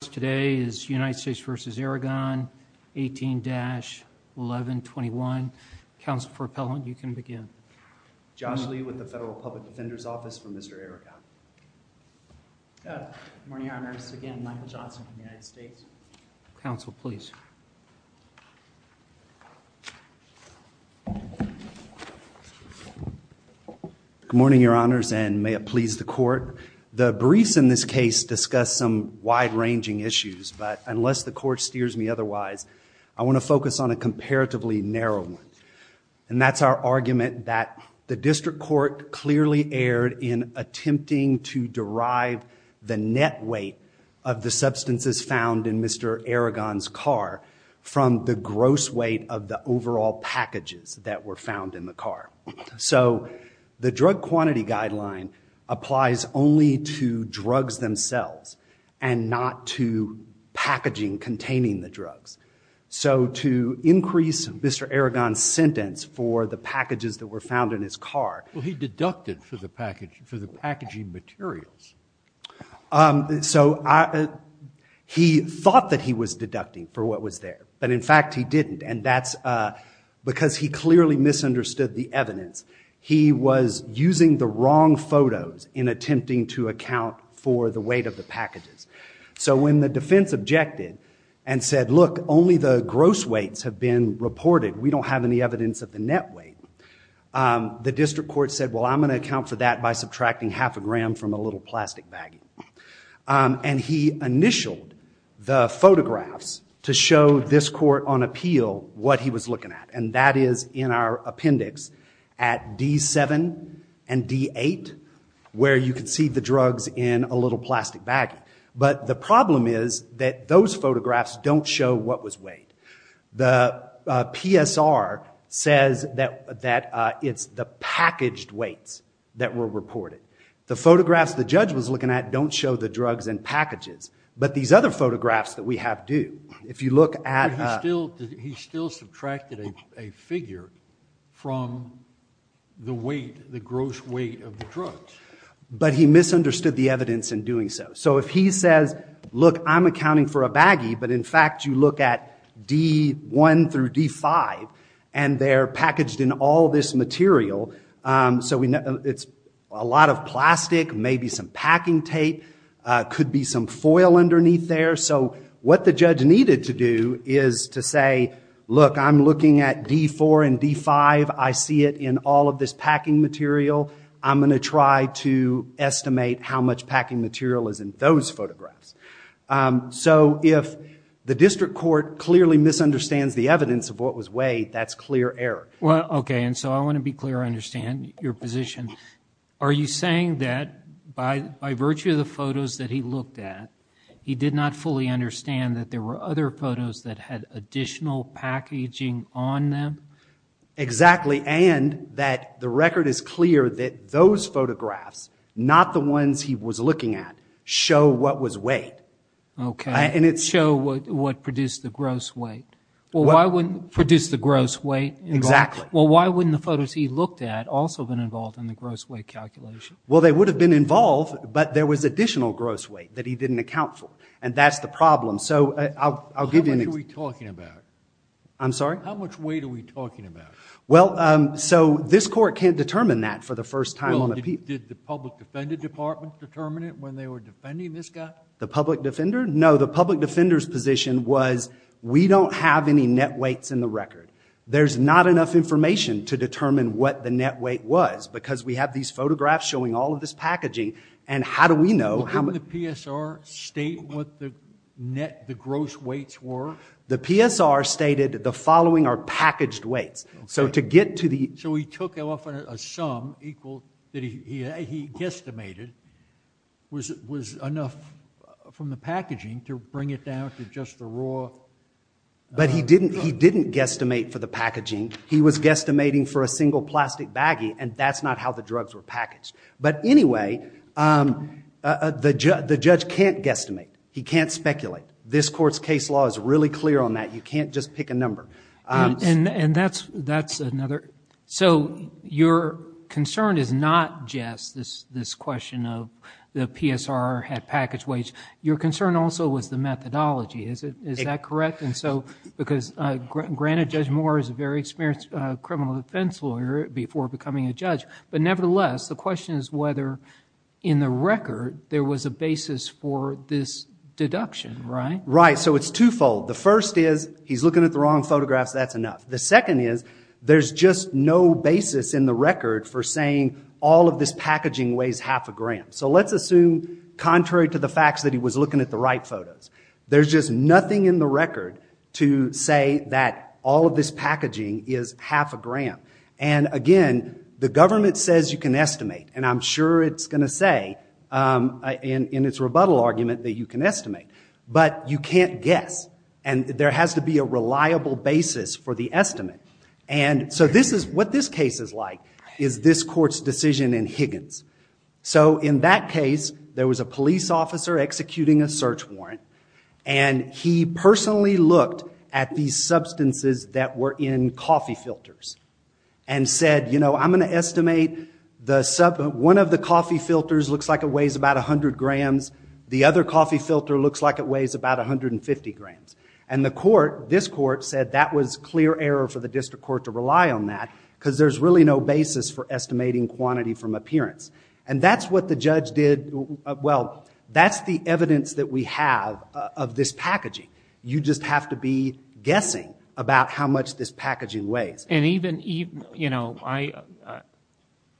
Today is United States v. Aragon, 18-1121. Counsel for appellant, you can begin. Josh Lee with the Federal Public Defender's Office for Mr. Aragon. Good morning, Your Honors. Again, Michael Johnson from the United States. Counsel, please. Good morning, Your Honors, and may it please the Court. The briefs in this case discuss some wide-ranging issues, but unless the Court steers me otherwise, I want to focus on a comparatively narrow one. And that's our argument that the District Court clearly erred in attempting to derive the net weight of the substances found in Mr. Aragon's car from the gross weight of the overall packages that were found in the car. So the drug quantity guideline applies only to drugs themselves and not to packaging containing the drugs. So to increase Mr. Aragon's sentence for the packages that were found in his car... Well, he deducted for the packaging materials. So he thought that he was deducting for what was there, but in fact he didn't. And that's because he clearly misunderstood the evidence. He was using the wrong photos in attempting to account for the weight of the packages. So when the defense objected and said, look, only the gross weights have been reported. We don't have any evidence of the net weight. The District Court said, well, I'm going to account for that by subtracting half a gram from a little plastic bag. And he initialed the photographs to show this court on appeal what he was looking at. And that is in our appendix at D7 and D8, where you can see the drugs in a little plastic bag. But the problem is that those photographs don't show what was weighed. The PSR says that it's the packaged weights that were reported. The photographs the judge was looking at don't show the drugs and packages. But these other photographs that we have do. If you look at... But he still subtracted a figure from the weight, the gross weight of the drugs. But he misunderstood the evidence in doing so. So if he says, look, I'm accounting for a baggie, but in fact you look at D1 through D5 and they're packaged in all this material. So it's a lot of plastic, maybe some packing tape, could be some foil underneath there. So what the judge needed to do is to say, look, I'm looking at D4 and D5. I see it in all of this packing material. I'm going to try to estimate how much packing material is in those photographs. So if the District Court clearly misunderstands the evidence of what was weighed, that's clear error. Well, okay, and so I want to be clear I understand your position. Are you saying that by virtue of the photos that he looked at, he did not fully understand that there were other photos that had additional packaging on them? Exactly. And that the record is clear that those photographs, not the ones he was looking at, show what was weighed. Okay. And it's... Show what produced the gross weight. Well, why wouldn't... Produce the gross weight. Exactly. Well, why wouldn't the photos he looked at also have been involved in the gross weight calculation? Well, they would have been involved, but there was additional gross weight that he didn't account for, and that's the problem. So I'll give you an example. How much are we talking about? I'm sorry? How much weight are we talking about? Well, so this Court can't determine that for the first time. Well, did the Public Defender Department determine it when they were defending this guy? The Public Defender? No, the Public Defender's position was we don't have any net weights in the record. There's not enough information to determine what the net weight was because we have these photographs showing all of this packaging, and how do we know... Didn't the PSR state what the gross weights were? The PSR stated the following are packaged weights. So to get to the... So he took off a sum that he guesstimated was enough from the packaging to bring it down to just the raw... But he didn't guesstimate for the packaging. He was guesstimating for a single plastic baggie, and that's not how the drugs were packaged. But anyway, the judge can't guesstimate. He can't speculate. This Court's case law is really clear on that. You can't just pick a number. And that's another... So your concern is not just this question of the PSR had packaged weights. Your concern also was the methodology. Is that correct? Because granted, Judge Moore is a very experienced criminal defense lawyer before becoming a judge. But nevertheless, the question is whether in the record there was a basis for this deduction, right? Right, so it's twofold. The first is he's looking at the wrong photographs. That's enough. The second is there's just no basis in the record for saying all of this packaging weighs half a gram. So let's assume, contrary to the facts, that he was looking at the right photos. There's just nothing in the record to say that all of this packaging is half a gram. And again, the government says you can estimate, and I'm sure it's going to say in its rebuttal argument that you can estimate. But you can't guess, and there has to be a reliable basis for the estimate. And so what this case is like is this court's decision in Higgins. So in that case, there was a police officer executing a search warrant, and he personally looked at these substances that were in coffee filters and said, you know, I'm going to estimate one of the coffee filters looks like it weighs about 100 grams. The other coffee filter looks like it weighs about 150 grams. And the court, this court, said that was clear error for the district court to rely on that because there's really no basis for estimating quantity from appearance. And that's what the judge did. Well, that's the evidence that we have of this packaging. You just have to be guessing about how much this packaging weighs. And even, you know,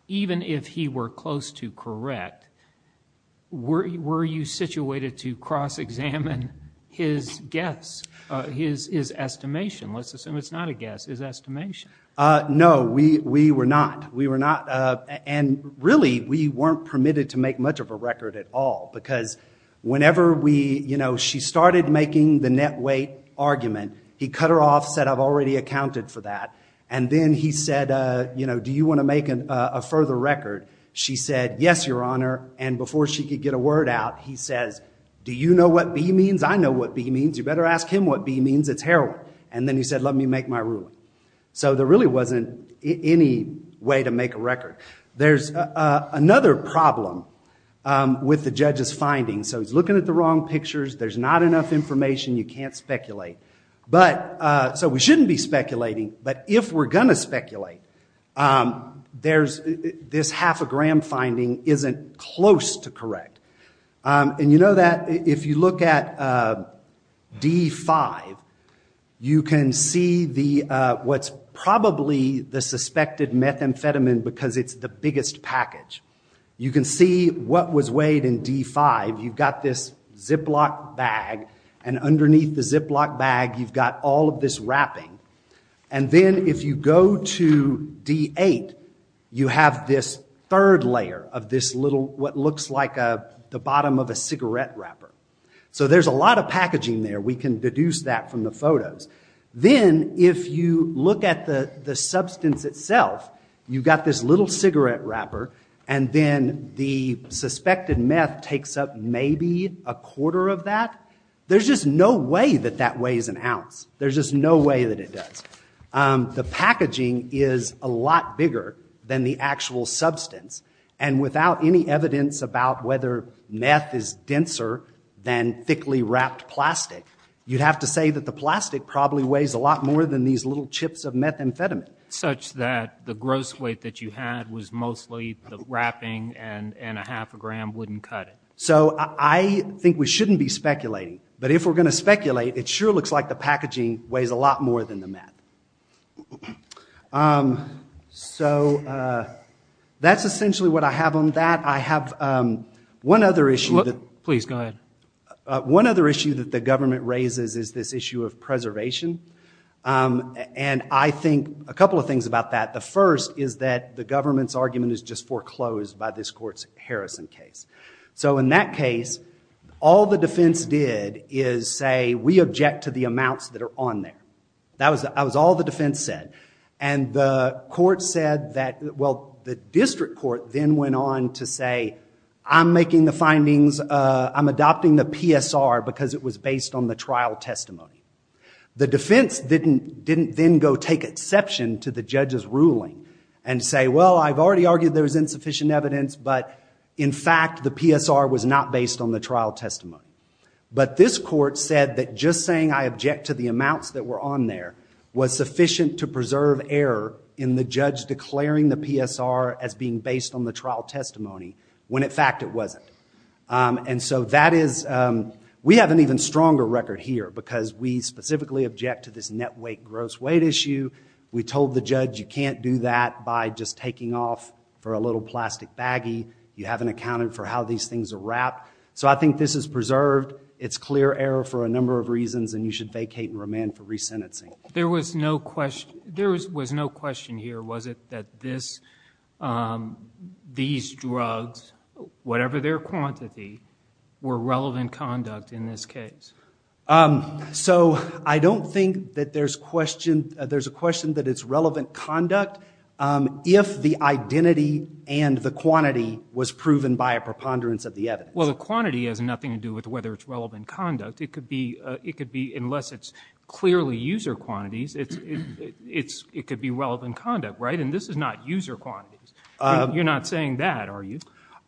even if he were close to correct, were you situated to cross-examine his guess, his estimation? Let's assume it's not a guess, his estimation. No, we were not. We were not, and really we weren't permitted to make much of a record at all because whenever we, you know, she started making the net weight argument, he cut her off, said, I've already accounted for that. And then he said, you know, do you want to make a further record? She said, yes, your honor. And before she could get a word out, he says, do you know what B means? I know what B means. You better ask him what B means. It's heroin. And then he said, let me make my ruling. So there really wasn't any way to make a record. There's another problem with the judge's findings. So he's looking at the wrong pictures. There's not enough information. You can't speculate. So we shouldn't be speculating, but if we're going to speculate, this half a gram finding isn't close to correct. And you know that if you look at D5, you can see what's probably the suspected methamphetamine because it's the biggest package. You can see what was weighed in D5. You've got this Ziploc bag. And underneath the Ziploc bag, you've got all of this wrapping. And then if you go to D8, you have this third layer of this little, what looks like the bottom of a cigarette wrapper. So there's a lot of packaging there. We can deduce that from the photos. Then if you look at the substance itself, you've got this little cigarette wrapper. And then the suspected meth takes up maybe a quarter of that. There's just no way that that weighs an ounce. There's just no way that it does. The packaging is a lot bigger than the actual substance. And without any evidence about whether meth is denser than thickly wrapped plastic, you'd have to say that the plastic probably weighs a lot more than these little chips of methamphetamine. Such that the gross weight that you had was mostly the wrapping and a half a gram wouldn't cut it. So I think we shouldn't be speculating. But if we're going to speculate, it sure looks like the packaging weighs a lot more than the meth. So that's essentially what I have on that. I have one other issue. Please, go ahead. One other issue that the government raises is this issue of preservation. And I think a couple of things about that. The first is that the government's argument is just foreclosed by this court's Harrison case. So in that case, all the defense did is say, we object to the amounts that are on there. That was all the defense said. And the court said that, well, the district court then went on to say, I'm making the findings, I'm adopting the PSR because it was based on the trial testimony. The defense didn't then go take exception to the judge's ruling and say, well, I've already argued there's insufficient evidence, but in fact the PSR was not based on the trial testimony. But this court said that just saying I object to the amounts that were on there was sufficient to preserve error in the judge declaring the PSR as being based on the trial testimony, when in fact it wasn't. And so we have an even stronger record here because we specifically object to this net weight gross weight issue. We told the judge you can't do that by just taking off for a little plastic baggie. You haven't accounted for how these things are wrapped. So I think this is preserved. It's clear error for a number of reasons, and you should vacate and remand for resentencing. There was no question here, was it, that these drugs, whatever their quantity, were relevant conduct in this case? So I don't think that there's a question that it's relevant conduct if the identity and the quantity was proven by a preponderance of the evidence. Well, the quantity has nothing to do with whether it's relevant conduct. It could be unless it's clearly user quantities. It could be relevant conduct, right? And this is not user quantities. You're not saying that, are you?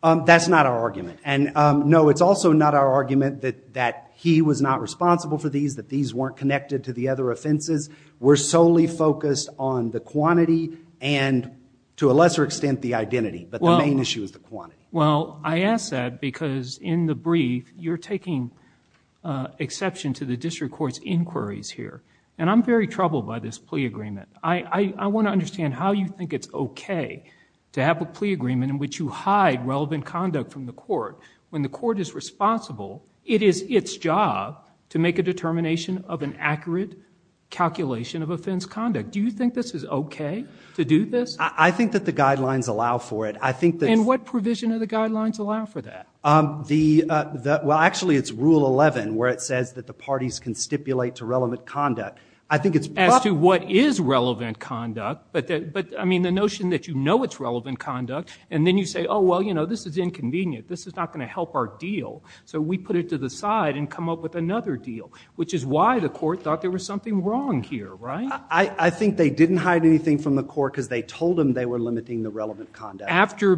That's not our argument. And no, it's also not our argument that he was not responsible for these, that these weren't connected to the other offenses. We're solely focused on the quantity and, to a lesser extent, the identity. But the main issue is the quantity. Well, I ask that because, in the brief, you're taking exception to the district court's inquiries here. And I'm very troubled by this plea agreement. I want to understand how you think it's okay to have a plea agreement in which you hide relevant conduct from the court when the court is responsible. It is its job to make a determination of an accurate calculation of offense conduct. Do you think this is okay to do this? I think that the guidelines allow for it. And what provision do the guidelines allow for that? Well, actually, it's Rule 11 where it says that the parties can stipulate to relevant conduct. As to what is relevant conduct, but, I mean, the notion that you know it's relevant conduct, and then you say, oh, well, you know, this is inconvenient. This is not going to help our deal. So we put it to the side and come up with another deal, which is why the court thought there was something wrong here, right? I think they didn't hide anything from the court because they told them they were limiting the relevant conduct. After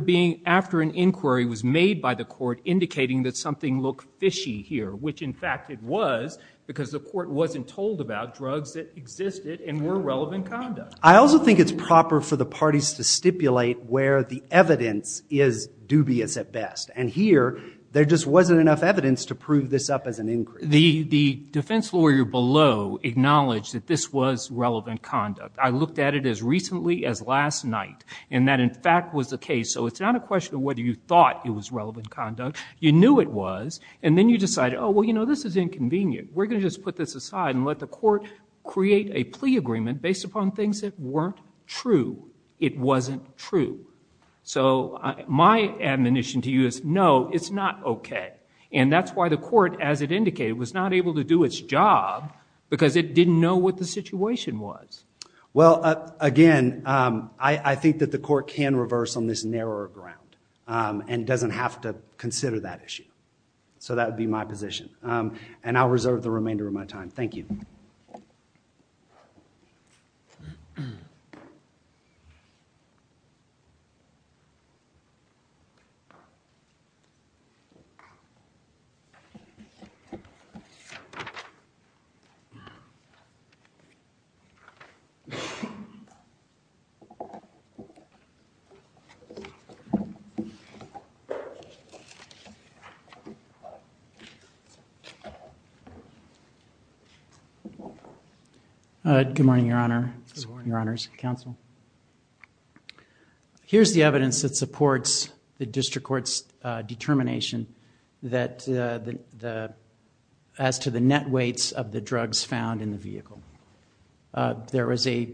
an inquiry was made by the court indicating that something looked fishy here, which, in fact, it was because the court wasn't told about drugs that existed and were relevant conduct. I also think it's proper for the parties to stipulate where the evidence is dubious at best. And here there just wasn't enough evidence to prove this up as an inquiry. The defense lawyer below acknowledged that this was relevant conduct. I looked at it as recently as last night, and that, in fact, was the case. So it's not a question of whether you thought it was relevant conduct. You knew it was, and then you decided, oh, well, you know, this is inconvenient. We're going to just put this aside and let the court create a plea agreement based upon things that weren't true. It wasn't true. So my admonition to you is, no, it's not okay. And that's why the court, as it indicated, was not able to do its job because it didn't know what the situation was. Well, again, I think that the court can reverse on this narrower ground and doesn't have to consider that issue. So that would be my position. And I'll reserve the remainder of my time. Thank you. Good morning, Your Honor. Good morning, Your Honors. Counsel. Here's the evidence that supports the district court's determination as to the net weights of the drugs found in the vehicle. There was a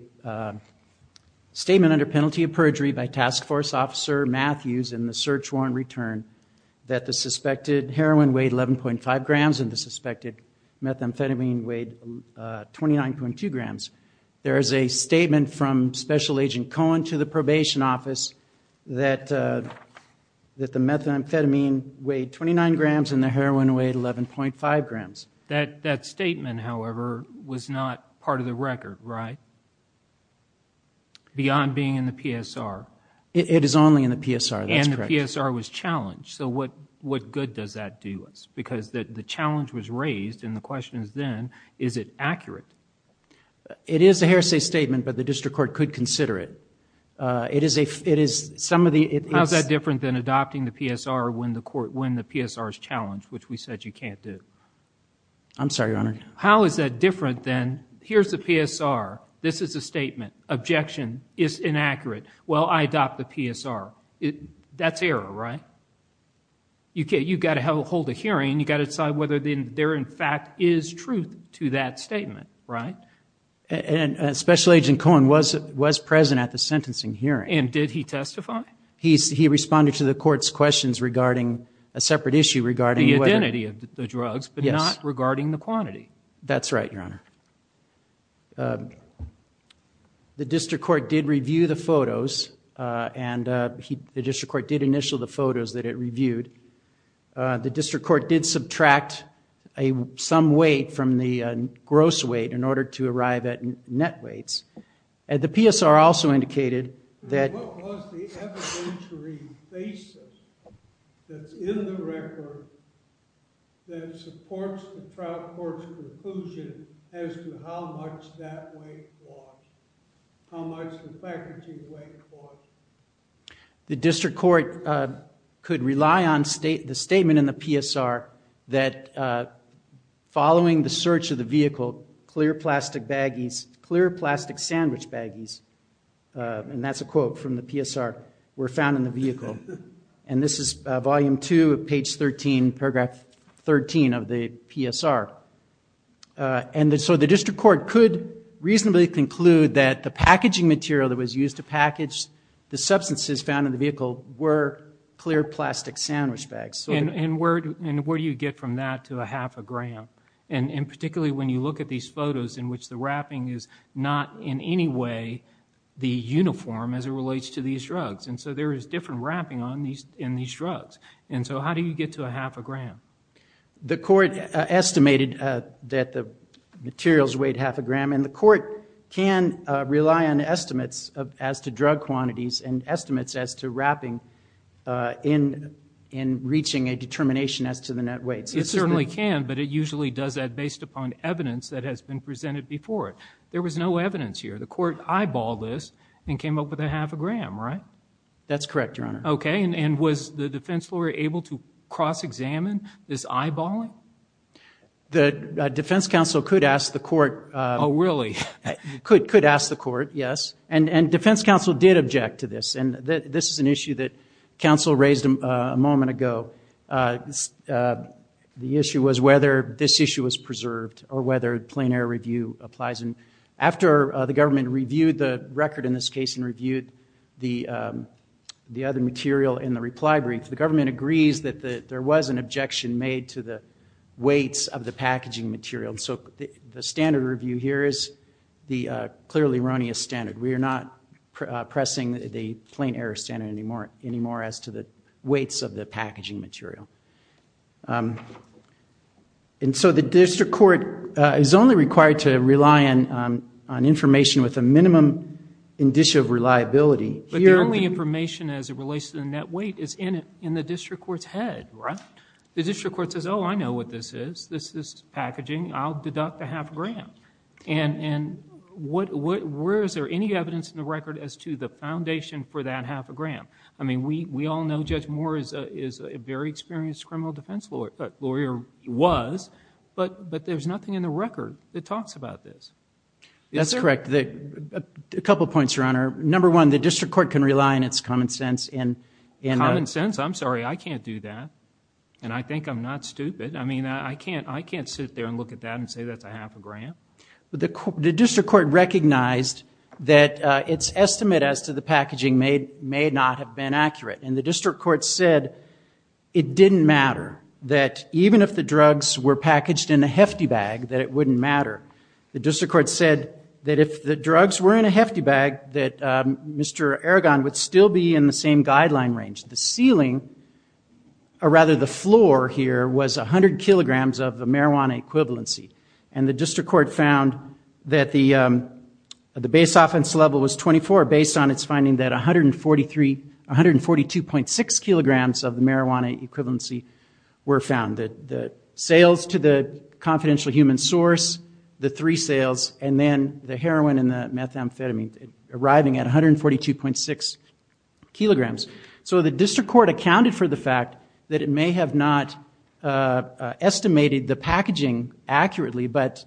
statement under penalty of perjury by Task Force Officer Matthews in the search warrant return that the suspected heroin weighed 11.5 grams and the suspected methamphetamine weighed 29.2 grams. There is a statement from Special Agent Cohen to the probation office that the methamphetamine weighed 29 grams and the heroin weighed 11.5 grams. That statement, however, was not part of the record, right, beyond being in the PSR? It is only in the PSR. That's correct. The PSR was challenged. So what good does that do us? Because the challenge was raised and the question is then, is it accurate? It is a hearsay statement, but the district court could consider it. It is some of the – How is that different than adopting the PSR when the PSR is challenged, which we said you can't do? I'm sorry, Your Honor. How is that different than here's the PSR, this is a statement, objection, it's inaccurate. Well, I adopt the PSR. That's error, right? You've got to hold a hearing, you've got to decide whether there in fact is truth to that statement, right? And Special Agent Cohen was present at the sentencing hearing. And did he testify? He responded to the court's questions regarding a separate issue regarding whether – The identity of the drugs, but not regarding the quantity. That's right, Your Honor. The district court did review the photos and the district court did initial the photos that it reviewed. The district court did subtract some weight from the gross weight in order to arrive at net weights. And the PSR also indicated that – As to how much that weight was, how much the faculty weight was. The district court could rely on the statement in the PSR that following the search of the vehicle, clear plastic baggies, clear plastic sandwich baggies, and that's a quote from the PSR, were found in the vehicle. And this is volume two of page 13, paragraph 13 of the PSR. And so the district court could reasonably conclude that the packaging material that was used to package the substances found in the vehicle were clear plastic sandwich bags. And where do you get from that to a half a gram? And particularly when you look at these photos in which the wrapping is not in any way the uniform as it relates to these drugs. And so there is different wrapping in these drugs. The court estimated that the materials weighed half a gram. And the court can rely on estimates as to drug quantities and estimates as to wrapping in reaching a determination as to the net weight. It certainly can, but it usually does that based upon evidence that has been presented before it. There was no evidence here. The court eyeballed this and came up with a half a gram, right? That's correct, Your Honor. Okay. And was the defense lawyer able to cross-examine this eyeballing? The defense counsel could ask the court. Oh, really? Could ask the court, yes. And defense counsel did object to this. And this is an issue that counsel raised a moment ago. The issue was whether this issue was preserved or whether plain error review applies. And after the government reviewed the record in this case and reviewed the other material in the reply brief, the government agrees that there was an objection made to the weights of the packaging material. So the standard review here is the clearly erroneous standard. We are not pressing the plain error standard anymore as to the weights of the packaging material. And so the district court is only required to rely on information with a minimum indicia of reliability. But the only information as it relates to the net weight is in the district court's head, right? The district court says, oh, I know what this is. This is packaging. I'll deduct a half a gram. And where is there any evidence in the record as to the foundation for that half a gram? I mean, we all know Judge Moore is a very experienced criminal defense lawyer, was. But there's nothing in the record that talks about this. That's correct. A couple points, Your Honor. Number one, the district court can rely on its common sense. Common sense? I'm sorry, I can't do that. And I think I'm not stupid. I mean, I can't sit there and look at that and say that's a half a gram. The district court recognized that its estimate as to the packaging may not have been accurate. And the district court said it didn't matter, that even if the drugs were packaged in a hefty bag, that it wouldn't matter. The district court said that if the drugs were in a hefty bag, that Mr. Aragon would still be in the same guideline range. The ceiling, or rather the floor here, was 100 kilograms of marijuana equivalency. And the district court found that the base offense level was 24, based on its finding that 142.6 kilograms of the marijuana equivalency were found. The sales to the confidential human source, the three sales, and then the heroin and the methamphetamine arriving at 142.6 kilograms. So the district court accounted for the fact that it may have not estimated the packaging accurately, but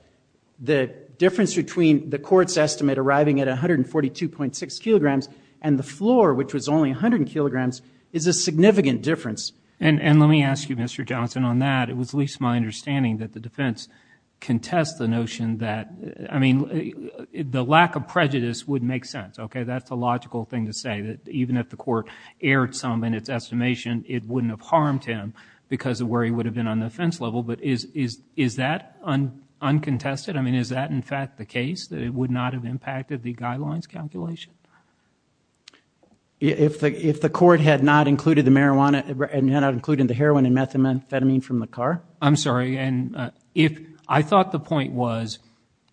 the difference between the court's estimate arriving at 142.6 kilograms and the floor, which was only 100 kilograms, is a significant difference. And let me ask you, Mr. Johnson, on that. It was at least my understanding that the defense contests the notion that, I mean, the lack of prejudice would make sense. Okay, that's a logical thing to say, that even if the court aired some in its estimation, it wouldn't have harmed him because of where he would have been on the offense level. But is that uncontested? I mean, is that, in fact, the case, that it would not have impacted the guidelines calculation? If the court had not included the heroin and methamphetamine from the car? I'm sorry. And I thought the point was,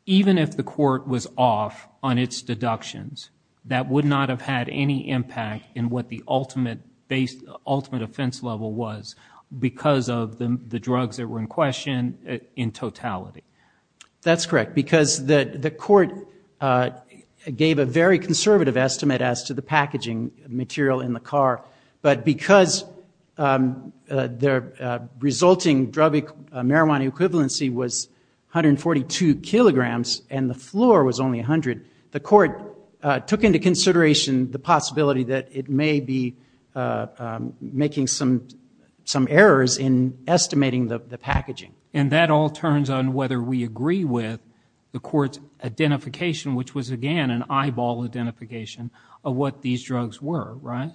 even if the court was off on its deductions, that would not have had any impact in what the ultimate offense level was because of the drugs that were in question in totality. That's correct, because the court gave a very conservative estimate as to the packaging material in the car. But because the resulting marijuana equivalency was 142 kilograms and the floor was only 100, the court took into consideration the possibility that it may be making some errors in estimating the packaging. And that all turns on whether we agree with the court's identification, which was, again, an eyeball identification of what these drugs were, right?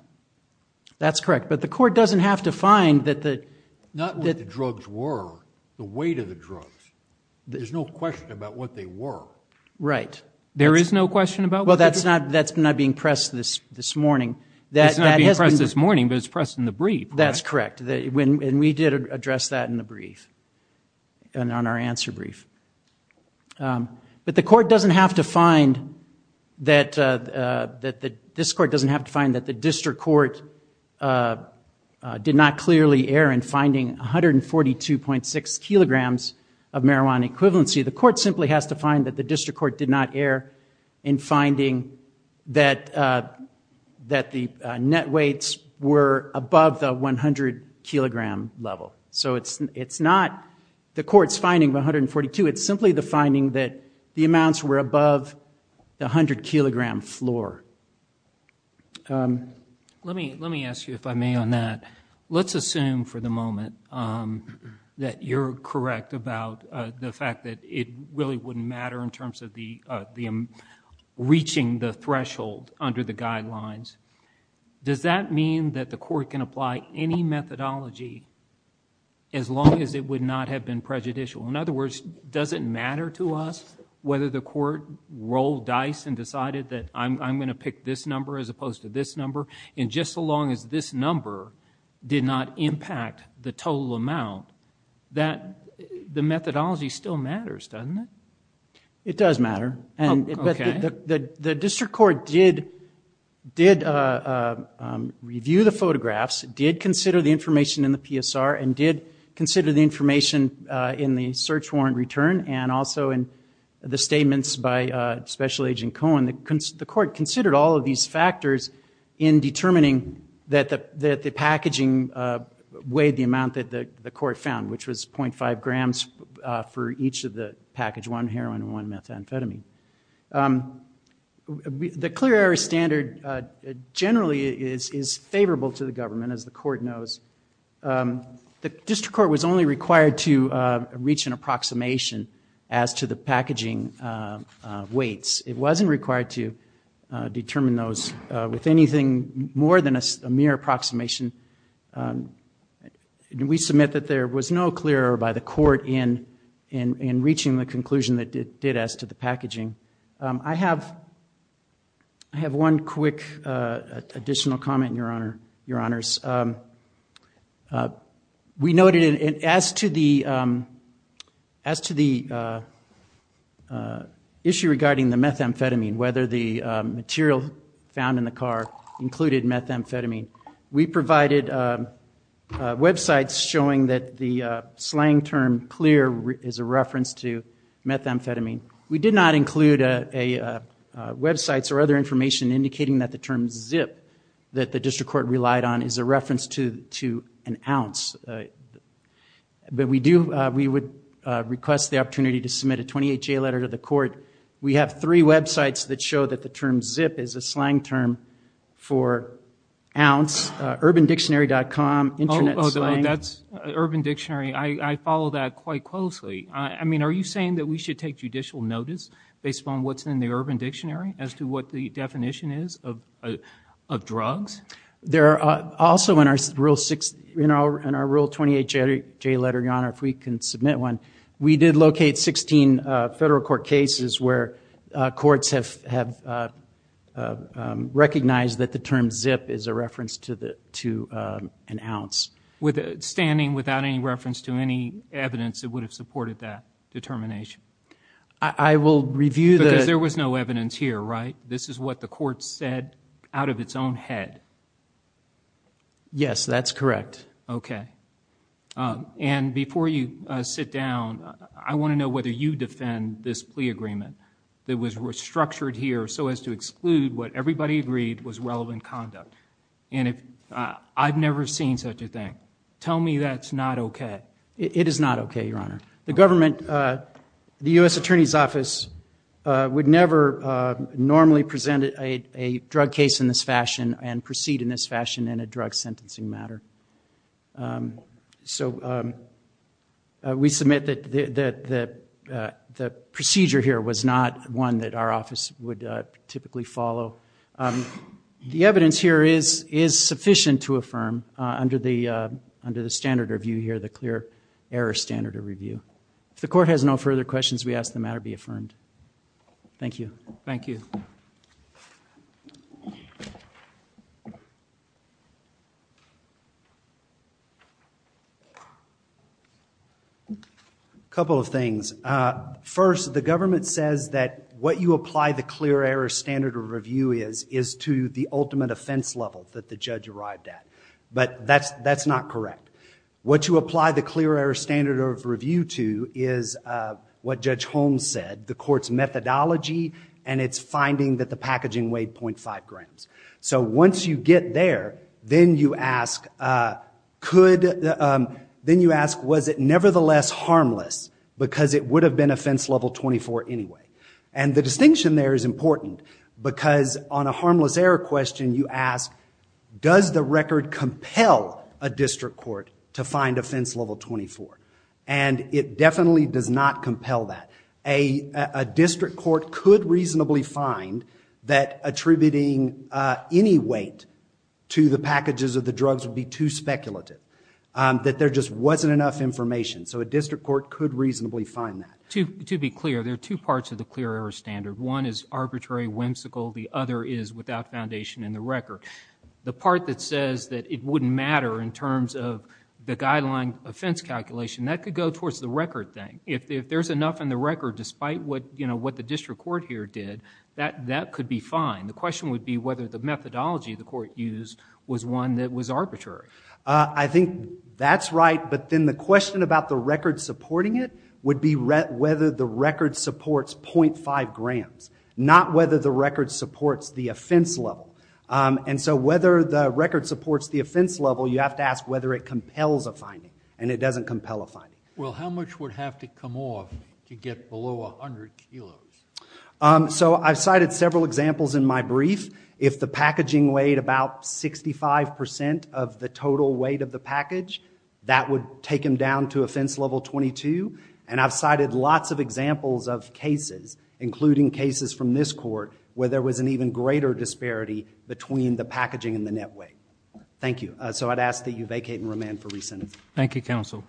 That's correct. But the court doesn't have to find that the- Not what the drugs were, the weight of the drugs. There's no question about what they were. Right. There is no question about- Well, that's not being pressed this morning. It's not being pressed this morning, but it's pressed in the brief. That's correct. And we did address that in the brief and on our answer brief. But the court doesn't have to find that- This court doesn't have to find that the district court did not clearly err in finding 142.6 kilograms of marijuana equivalency. The court simply has to find that the district court did not err in finding that the net weights were above the 100-kilogram level. So it's not the court's finding of 142. It's simply the finding that the amounts were above the 100-kilogram floor. Let me ask you, if I may, on that. Let's assume for the moment that you're correct about the fact that it really wouldn't matter in terms of reaching the threshold under the guidelines. Does that mean that the court can apply any methodology as long as it would not have been prejudicial? In other words, does it matter to us whether the court rolled dice and decided that I'm going to pick this number as opposed to this number? And just so long as this number did not impact the total amount, the methodology still matters, doesn't it? It does matter. The district court did review the photographs, did consider the information in the PSR, and did consider the information in the search warrant return and also in the statements by Special Agent Cohen. The court considered all of these factors in determining that the packaging weighed the amount that the court found, which was 0.5 grams for each of the package, one heroin and one methamphetamine. The clear air standard generally is favorable to the government, as the court knows. The district court was only required to reach an approximation as to the packaging weights. It wasn't required to determine those with anything more than a mere approximation. We submit that there was no clear air by the court in reaching the conclusion that it did as to the packaging. I have one quick additional comment, Your Honors. We noted as to the issue regarding the methamphetamine, whether the material found in the car included methamphetamine, we provided websites showing that the slang term clear is a reference to methamphetamine. We did not include websites or other information indicating that the term zip that the district court relied on is a reference to an ounce. We would request the opportunity to submit a 28-J letter to the court. We have three websites that show that the term zip is a slang term for ounce. UrbanDictionary.com, Internet Slang. Oh, that's Urban Dictionary. I follow that quite closely. I mean, are you saying that we should take judicial notice based upon what's in the Urban Dictionary as to what the definition is of drugs? There are also in our Rule 28-J letter, Your Honor, if we can submit one, we did locate 16 federal court cases where courts have recognized that the term zip is a reference to an ounce. Standing without any reference to any evidence that would have supported that determination? I will review that. Because there was no evidence here, right? This is what the court said out of its own head? Yes, that's correct. Okay. And before you sit down, I want to know whether you defend this plea agreement that was restructured here so as to exclude what everybody agreed was relevant conduct. And I've never seen such a thing. Tell me that's not okay. It is not okay, Your Honor. The government, the U.S. Attorney's Office, would never normally present a drug case in this fashion and proceed in this fashion in a drug sentencing matter. So we submit that the procedure here was not one that our office would typically follow. The evidence here is sufficient to affirm under the standard review here, the clear error standard review. If the court has no further questions, we ask the matter be affirmed. Thank you. Thank you. A couple of things. First, the government says that what you apply the clear error standard of review is, is to the ultimate offense level that the judge arrived at. But that's not correct. What you apply the clear error standard of review to is what Judge Holmes said, the court's methodology and its finding that the packaging weighed 0.5 grams. So once you get there, then you ask, was it nevertheless harmless? Because it would have been offense level 24 anyway. And the distinction there is important because on a harmless error question you ask, does the record compel a district court to find offense level 24? And it definitely does not compel that. A district court could reasonably find that attributing any weight to the packages of the drugs would be too speculative, that there just wasn't enough information. So a district court could reasonably find that. To be clear, there are two parts of the clear error standard. One is arbitrary, whimsical. The other is without foundation in the record. The part that says that it wouldn't matter in terms of the guideline offense calculation, that could go towards the record thing. If there's enough in the record, despite what the district court here did, that could be fine. The question would be whether the methodology the court used was one that was arbitrary. I think that's right. But then the question about the record supporting it would be whether the record supports 0.5 grams, not whether the record supports the offense level. And so whether the record supports the offense level, you have to ask whether it compels a finding, and it doesn't compel a finding. Well, how much would have to come off to get below 100 kilos? So I've cited several examples in my brief. If the packaging weighed about 65% of the total weight of the package, that would take them down to offense level 22. And I've cited lots of examples of cases, including cases from this court, where there was an even greater disparity between the packaging and the net weight. Thank you. So I'd ask that you vacate and remand for re-sentencing. Thank you, counsel.